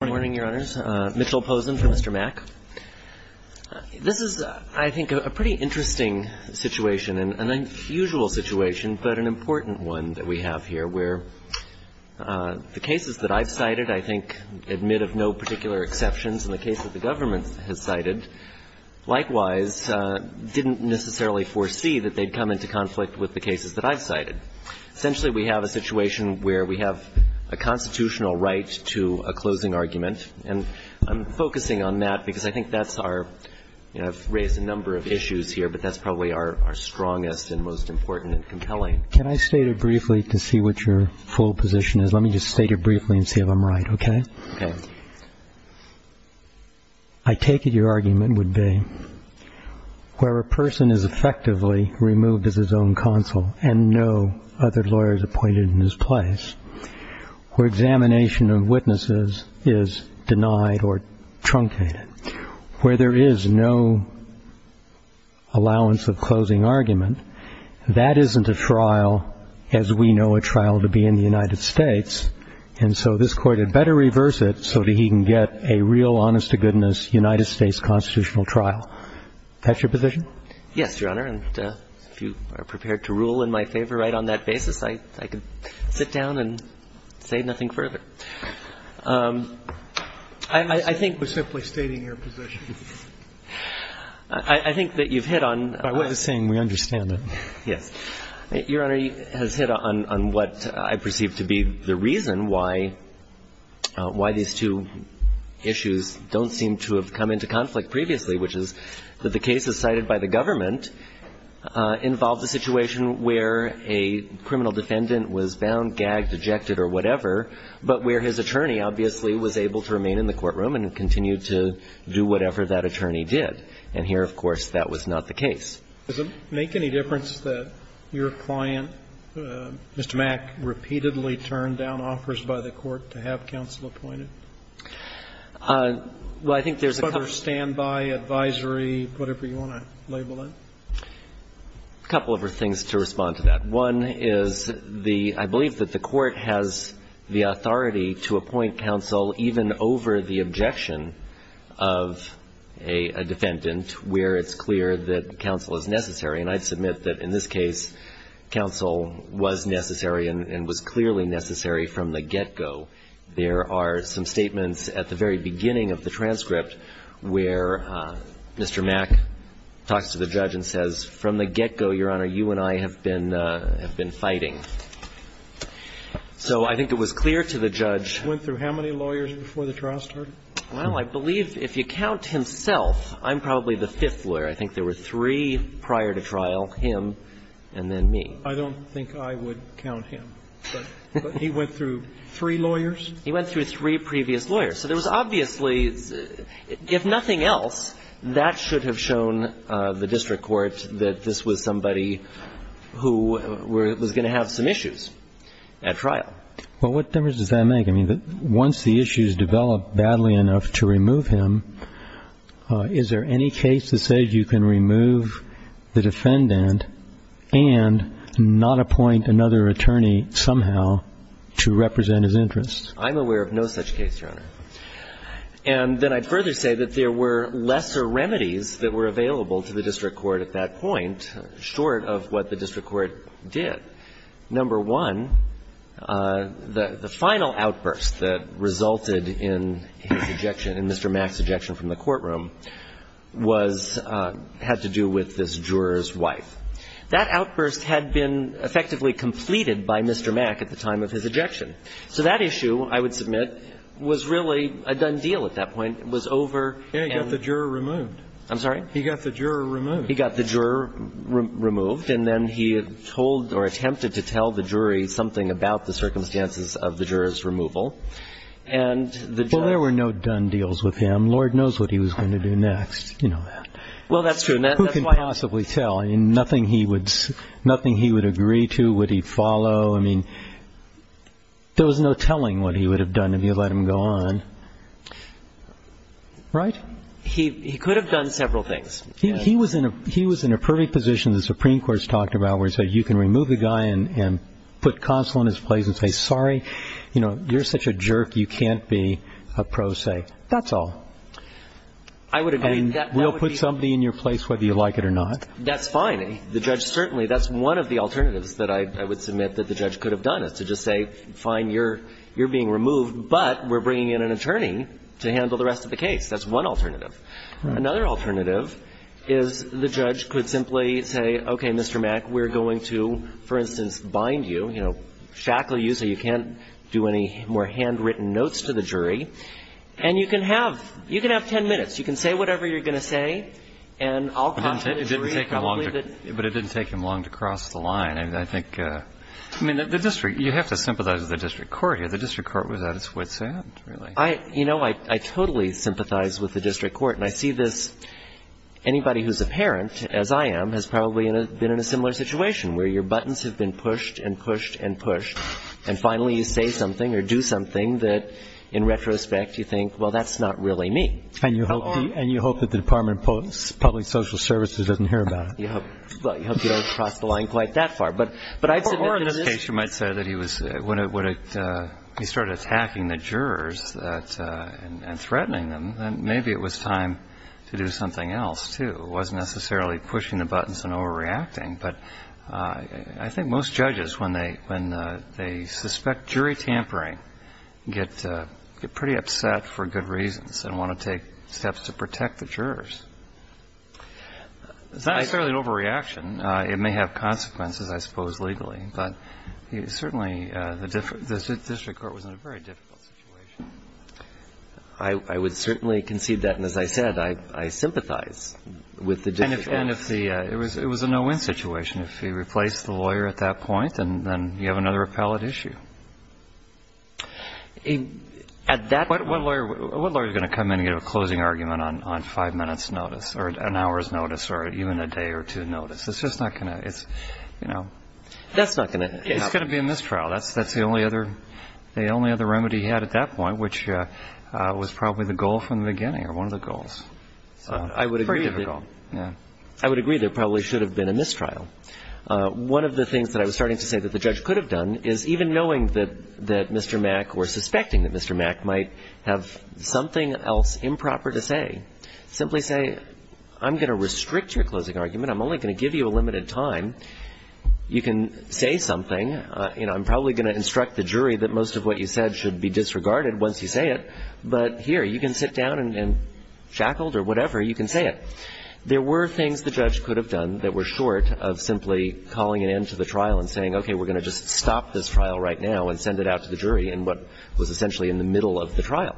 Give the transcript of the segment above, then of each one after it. Good morning, Your Honors. Mitchell Posen for Mr. Mack. This is, I think, a pretty interesting situation, an unusual situation, but an important one that we have here, where the cases that I've cited, I think, admit of no particular exceptions in the case that the government has cited, likewise didn't necessarily foresee that they'd come into conflict with the cases that I've cited. Essentially, we have a situation where we have a constitutional right to a closing argument. And I'm focusing on that because I think that's our, you know, I've raised a number of issues here, but that's probably our strongest and most important and compelling. Can I state it briefly to see what your full position is? Let me just state it briefly and see if I'm right, okay? Okay. I take it your argument would be where a person is effectively removed as his own counsel and no other lawyers appointed in his place, where examination of witnesses is denied or truncated, where there is no allowance of closing argument. That isn't a trial, as we know a trial to be in the United States. And so this Court had better reverse it so that he can get a real, honest-to-goodness United States constitutional trial. That's your position? Yes, Your Honor. And if you are prepared to rule in my favor right on that basis, I could sit down and say nothing further. I think we're simply stating your position. I think that you've hit on the point. I wasn't saying we understand it. Yes. Your Honor, you've hit on what I perceive to be the reason why these two issues don't seem to have come into conflict previously, which is that the cases cited by the government involved a situation where a criminal defendant was bound, gagged, ejected or whatever, but where his attorney obviously was able to remain in the courtroom and continue to do whatever that attorney did. And here, of course, that was not the case. Does it make any difference that your client, Mr. Mack, repeatedly turned down offers by the Court to have counsel appointed? Well, I think there's a couple of them. A couple of things to respond to that. One is the — I believe that the Court has the authority to appoint counsel even over the objection of a defendant where it's clear that counsel is necessary. And I'd submit that in this case, counsel was necessary and was clearly necessary from the get-go. There are some statements at the very beginning where the judge says, from the get-go, Your Honor, you and I have been fighting. So I think it was clear to the judge — Went through how many lawyers before the trial started? Well, I believe, if you count himself, I'm probably the fifth lawyer. I think there were three prior to trial, him and then me. I don't think I would count him, but he went through three lawyers? He went through three previous lawyers. So there was obviously, if nothing else, that should have shown the district court that this was somebody who was going to have some issues at trial. Well, what difference does that make? I mean, once the issues develop badly enough to remove him, is there any case that says you can remove the defendant and not appoint another attorney somehow to represent his interests? I'm aware of no such case, Your Honor. And then I'd further say that there were less or remedies that were available to the district court at that point, short of what the district court did. Number one, the final outburst that resulted in his ejection, in Mr. Mack's ejection from the courtroom, was — had to do with this juror's wife. That outburst had been effectively completed by Mr. Mack at the time of his ejection. So that issue, I would submit, was really a done deal at that point. It was over and — Yeah, he got the juror removed. I'm sorry? He got the juror removed. He got the juror removed. And then he told or attempted to tell the jury something about the circumstances of the juror's removal. And the — Well, there were no done deals with him. Lord knows what he was going to do next. You know that. Well, that's true. Who can possibly tell? I mean, nothing he would — nothing he would agree to would he follow? I mean, there was no telling what he would have done if you let him go on. Right? He could have done several things. He was in a — he was in a pervy position, the Supreme Court's talked about, where it said you can remove the guy and put consul in his place and say, sorry, you know, you're such a jerk, you can't be a pro se. That's all. I would agree. I mean, we'll put somebody in your place whether you like it or not. That's fine. The judge certainly — that's one of the alternatives that I would submit that the judge could have done, is to just say, fine, you're — you're being removed, but we're bringing in an attorney to handle the rest of the case. That's one alternative. Another alternative is the judge could simply say, okay, Mr. Mack, we're going to, for instance, bind you, you know, shackle you so you can't do any more handwritten notes to the jury. And you can have — you can have 10 minutes. You can say whatever you're going to say, and I'll caution the jury. It didn't take him long to — but it didn't take him long to cross the line. I think — I mean, the district — you have to sympathize with the district court here. The district court was at its wits' end, really. I — you know, I totally sympathize with the district court. And I see this — anybody who's a parent, as I am, has probably been in a similar situation, where your buttons have been pushed and pushed and pushed, and finally you say something or do something that, in retrospect, you think, well, that's not really me. And you hope — and you hope that the Department of Public Social Services doesn't hear about it. You hope — well, you hope you don't cross the line quite that far. But I've submitted to this — When it — when it — he started attacking the jurors that — and threatening them, then maybe it was time to do something else, too. It wasn't necessarily pushing the buttons and overreacting. But I think most judges, when they — when they suspect jury tampering, get pretty upset for good reasons and want to take steps to protect the jurors. It's not necessarily an overreaction. It may have consequences, I suppose, legally. But certainly, the district court was in a very difficult situation. I would certainly concede that. And as I said, I sympathize with the district court. And if the — it was a no-win situation. If he replaced the lawyer at that point, then you have another appellate issue. At that point — What lawyer is going to come in and give a closing argument on five minutes' notice, or an hour's notice, or even a day or two notice? It's just not going to — it's, you know — That's not going to happen. It's going to be a mistrial. That's the only other — the only other remedy he had at that point, which was probably the goal from the beginning, or one of the goals. So it's a pretty difficult — I would agree that there probably should have been a mistrial. One of the things that I was starting to say that the judge could have done is, even knowing that Mr. Mack or suspecting that Mr. Mack might have something else improper to say, simply say, I'm going to restrict your closing argument. I'm only going to give you a limited time. You can say something. You know, I'm probably going to instruct the jury that most of what you said should be disregarded once you say it. But here, you can sit down and — shackled or whatever, you can say it. There were things the judge could have done that were short of simply calling an end to the trial and saying, okay, we're going to just stop this trial right now and send it out to the jury in what was essentially in the middle of the trial.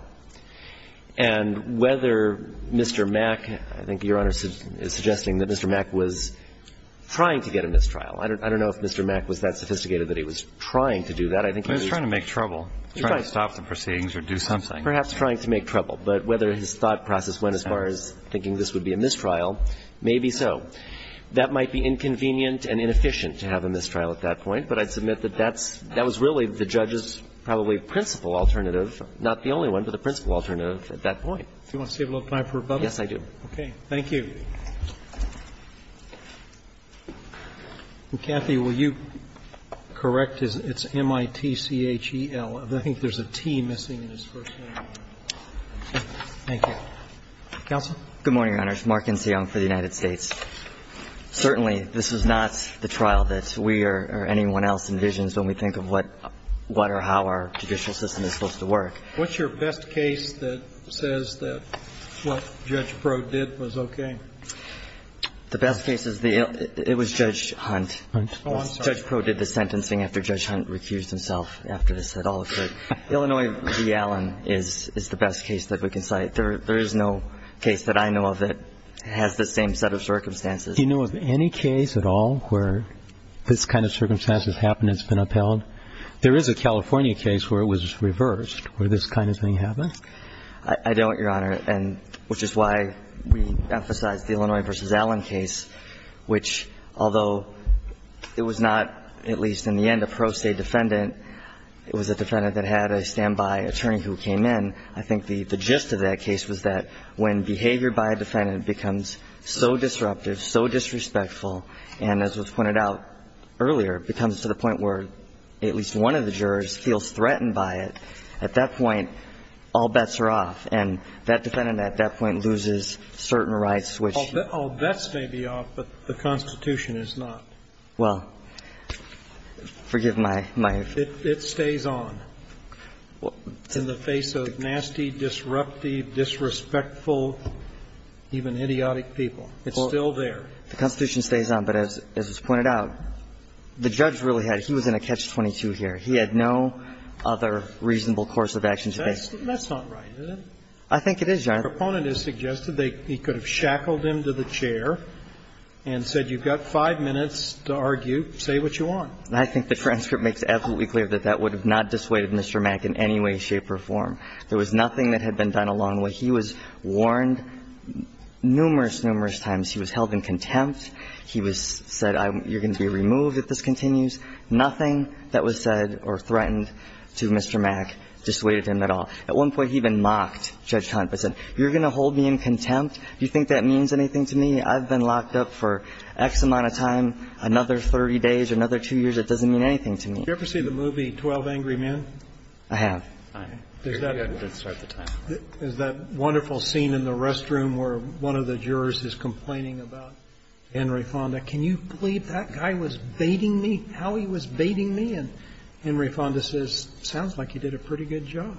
And whether Mr. Mack — I think Your Honor is suggesting that Mr. Mack was trying to get a mistrial. I don't know if Mr. Mack was that sophisticated that he was trying to do that. I think he was — He was trying to make trouble, trying to stop the proceedings or do something. Perhaps trying to make trouble. But whether his thought process went as far as thinking this would be a mistrial, maybe so. That might be inconvenient and inefficient to have a mistrial at that point, but I'd submit that that's — that was really the judge's probably principal alternative, not the only one, but the principal alternative at that point. Do you want to save a little time for rebuttal? Yes, I do. Okay. Thank you. And, Kathy, will you correct? It's M-I-T-C-H-E-L. I think there's a T missing in his first name. Thank you. Counsel? Good morning, Your Honors. Mark Inseong for the United States. Certainly, this is not the trial that we or anyone else envisions when we think of what or how our judicial system is supposed to work. What's your best case that says that what Judge Prode did was okay? The best case is the — it was Judge Hunt. Judge Prode did the sentencing after Judge Hunt recused himself after this had all occurred. Illinois v. Allen is the best case that we can cite. There is no case that I know of that has the same set of circumstances. Do you know of any case at all where this kind of circumstance has happened, it's been upheld? There is a California case where it was reversed, where this kind of thing happened. I don't, Your Honor, and — which is why we emphasize the Illinois v. Allen case, which although it was not, at least in the end, a pro se defendant, it was a defendant that had a standby attorney who came in. I think the gist of that case was that when behavior by a defendant becomes so disruptive, so disrespectful, and as was pointed out earlier, becomes to the point where at least one of the jurors feels threatened by it, at that point, all bets are off, and that defendant at that point loses certain rights, which — All bets may be off, but the Constitution is not. Well, forgive my — It stays on in the face of nasty, disruptive, disrespectful, even idiotic people. It's still there. The Constitution stays on, but as was pointed out, the judge really had — he was in a catch-22 here. He had no other reasonable course of action to make. That's not right, is it? I think it is, Your Honor. The proponent has suggested they — he could have shackled him to the chair and said, you've got five minutes to argue, say what you want. I think the transcript makes absolutely clear that that would have not dissuaded Mr. Mack in any way, shape, or form. There was nothing that had been done along the way. He was warned numerous, numerous times. He was held in contempt. He was said, you're going to be removed if this continues. Nothing that was said or threatened to Mr. Mack dissuaded him at all. At one point, he even mocked Judge Hunt by saying, you're going to hold me in contempt? Do you think that means anything to me? I've been locked up for X amount of time, another 30 days, another two years. It doesn't mean anything to me. Did you ever see the movie 12 Angry Men? I have. I have. There's that wonderful scene in the restroom where one of the jurors is complaining about Henry Fonda. Can you believe that guy was baiting me out? And now he was baiting me, and Henry Fonda says, sounds like you did a pretty good job.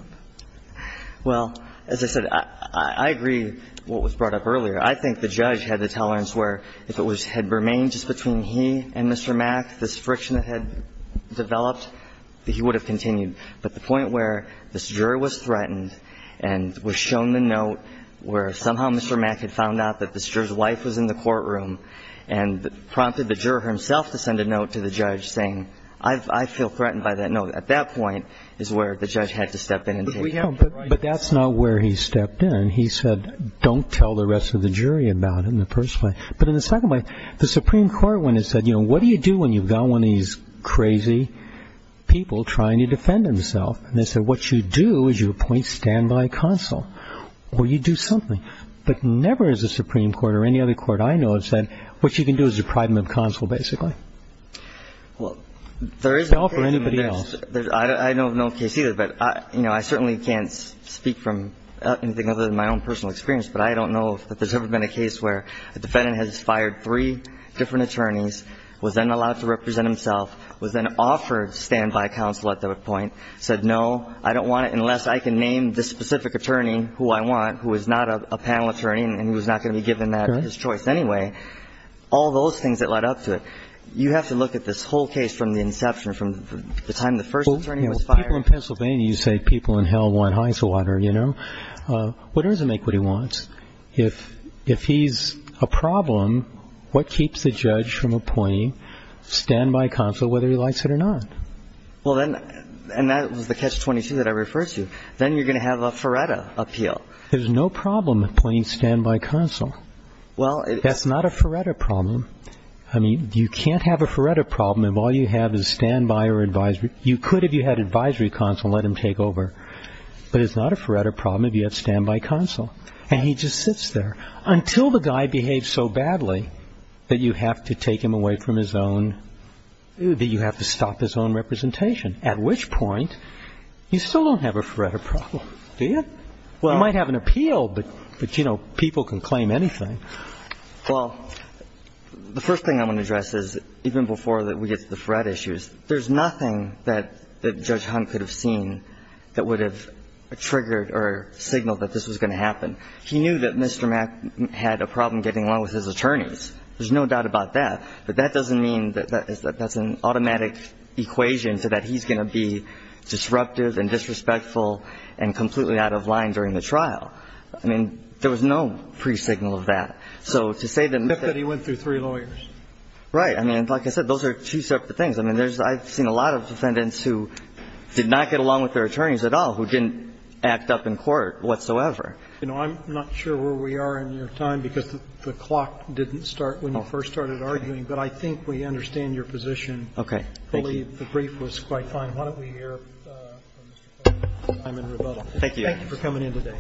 Well, as I said, I agree what was brought up earlier. I think the judge had the tolerance where if it had remained just between he and Mr. Mack, this friction that had developed, he would have continued. But the point where this juror was threatened and was shown the note where somehow Mr. Mack had found out that this juror's wife was in the courtroom and prompted the juror himself to send a note to the judge saying, I feel threatened by that note. At that point is where the judge had to step in. But that's not where he stepped in. He said, don't tell the rest of the jury about it in the first place. But in the second place, the Supreme Court when it said, you know, what do you do when you've got one of these crazy people trying to defend himself? And they said, what you do is you appoint standby counsel or you do something. But never is the Supreme Court or any other court I know of said, what you can do is appoint a standby counsel, basically. Well, there is a case. Spell for anybody else. I don't know of no case either, but I certainly can't speak from anything other than my own personal experience. But I don't know if there's ever been a case where a defendant has fired three different attorneys, was then allowed to represent himself, was then offered standby counsel at that point, said, no, I don't want it unless I can name this specific attorney who I want who is not a panel attorney and who is not going to be given that choice anyway. All those things that led up to it. You have to look at this whole case from the inception, from the time the first attorney was fired. Well, people in Pennsylvania, you say people in hell want high water, you know. What does it make what he wants? If he's a problem, what keeps the judge from appointing standby counsel, whether he likes it or not? Well, then, and that was the catch 22 that I referred to. Then you're going to have a Faretta appeal. There's no problem appointing standby counsel. Well, that's not a Faretta problem. I mean, you can't have a Faretta problem if all you have is standby or advisory. You could, if you had advisory counsel, let him take over. But it's not a Faretta problem if you have standby counsel. And he just sits there until the guy behaves so badly that you have to take him away from his own, that you have to stop his own representation. At which point, you still don't have a Faretta problem, do you? You might have an appeal, but, you know, people can claim anything. Well, the first thing I want to address is, even before we get to the Faretta issues, there's nothing that Judge Hunt could have seen that would have triggered or signaled that this was going to happen. He knew that Mr. Mack had a problem getting along with his attorneys. There's no doubt about that. But that doesn't mean that that's an automatic equation so that he's going to be disruptive and disrespectful and completely out of line during the trial. I mean, there was no pre-signal of that. So to say that Mr. Hunt was not going to get along with his attorneys at all, he didn't act up in court whatsoever. You know, I'm not sure where we are in your time, because the clock didn't start when you first started arguing. But I think we understand your position. Okay. Thank you. I believe the brief was quite fine. And why don't we hear from Mr. Cohen and Mr. Simon-Rubato. Thank you. Thank you for coming in today.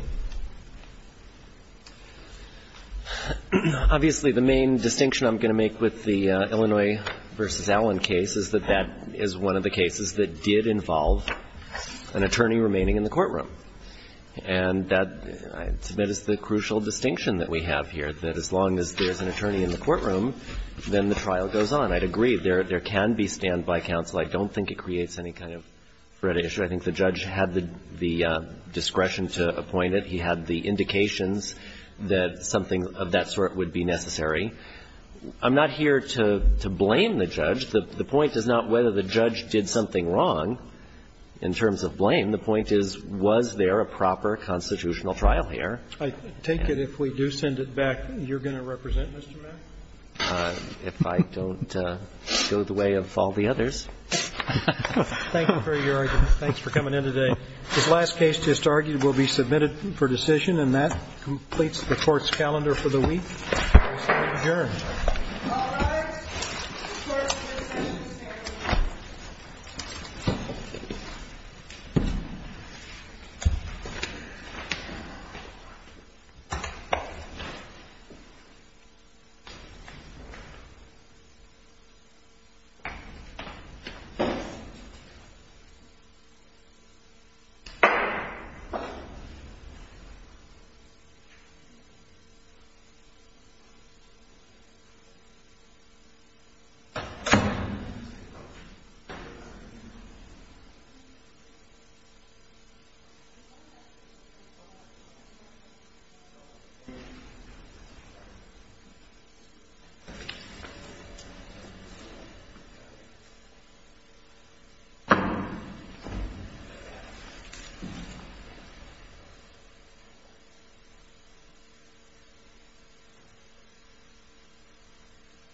Obviously, the main distinction I'm going to make with the Illinois v. Allen case is that that is one of the cases that did involve an attorney remaining in the courtroom. And that, I submit, is the crucial distinction that we have here, that as long as there's an attorney in the courtroom, then the trial goes on. I'd agree, there can be standby counsel. I don't think it creates any kind of threat issue. I think the judge had the discretion to appoint it. He had the indications that something of that sort would be necessary. I'm not here to blame the judge. The point is not whether the judge did something wrong in terms of blame. The point is, was there a proper constitutional trial here? I take it if we do send it back, you're going to represent Mr. Mack? If I don't go the way of all the others. Thank you for your argument. Thanks for coming in today. This last case just argued will be submitted for decision. And that completes the Court's calendar for the week. We're adjourned. All rise.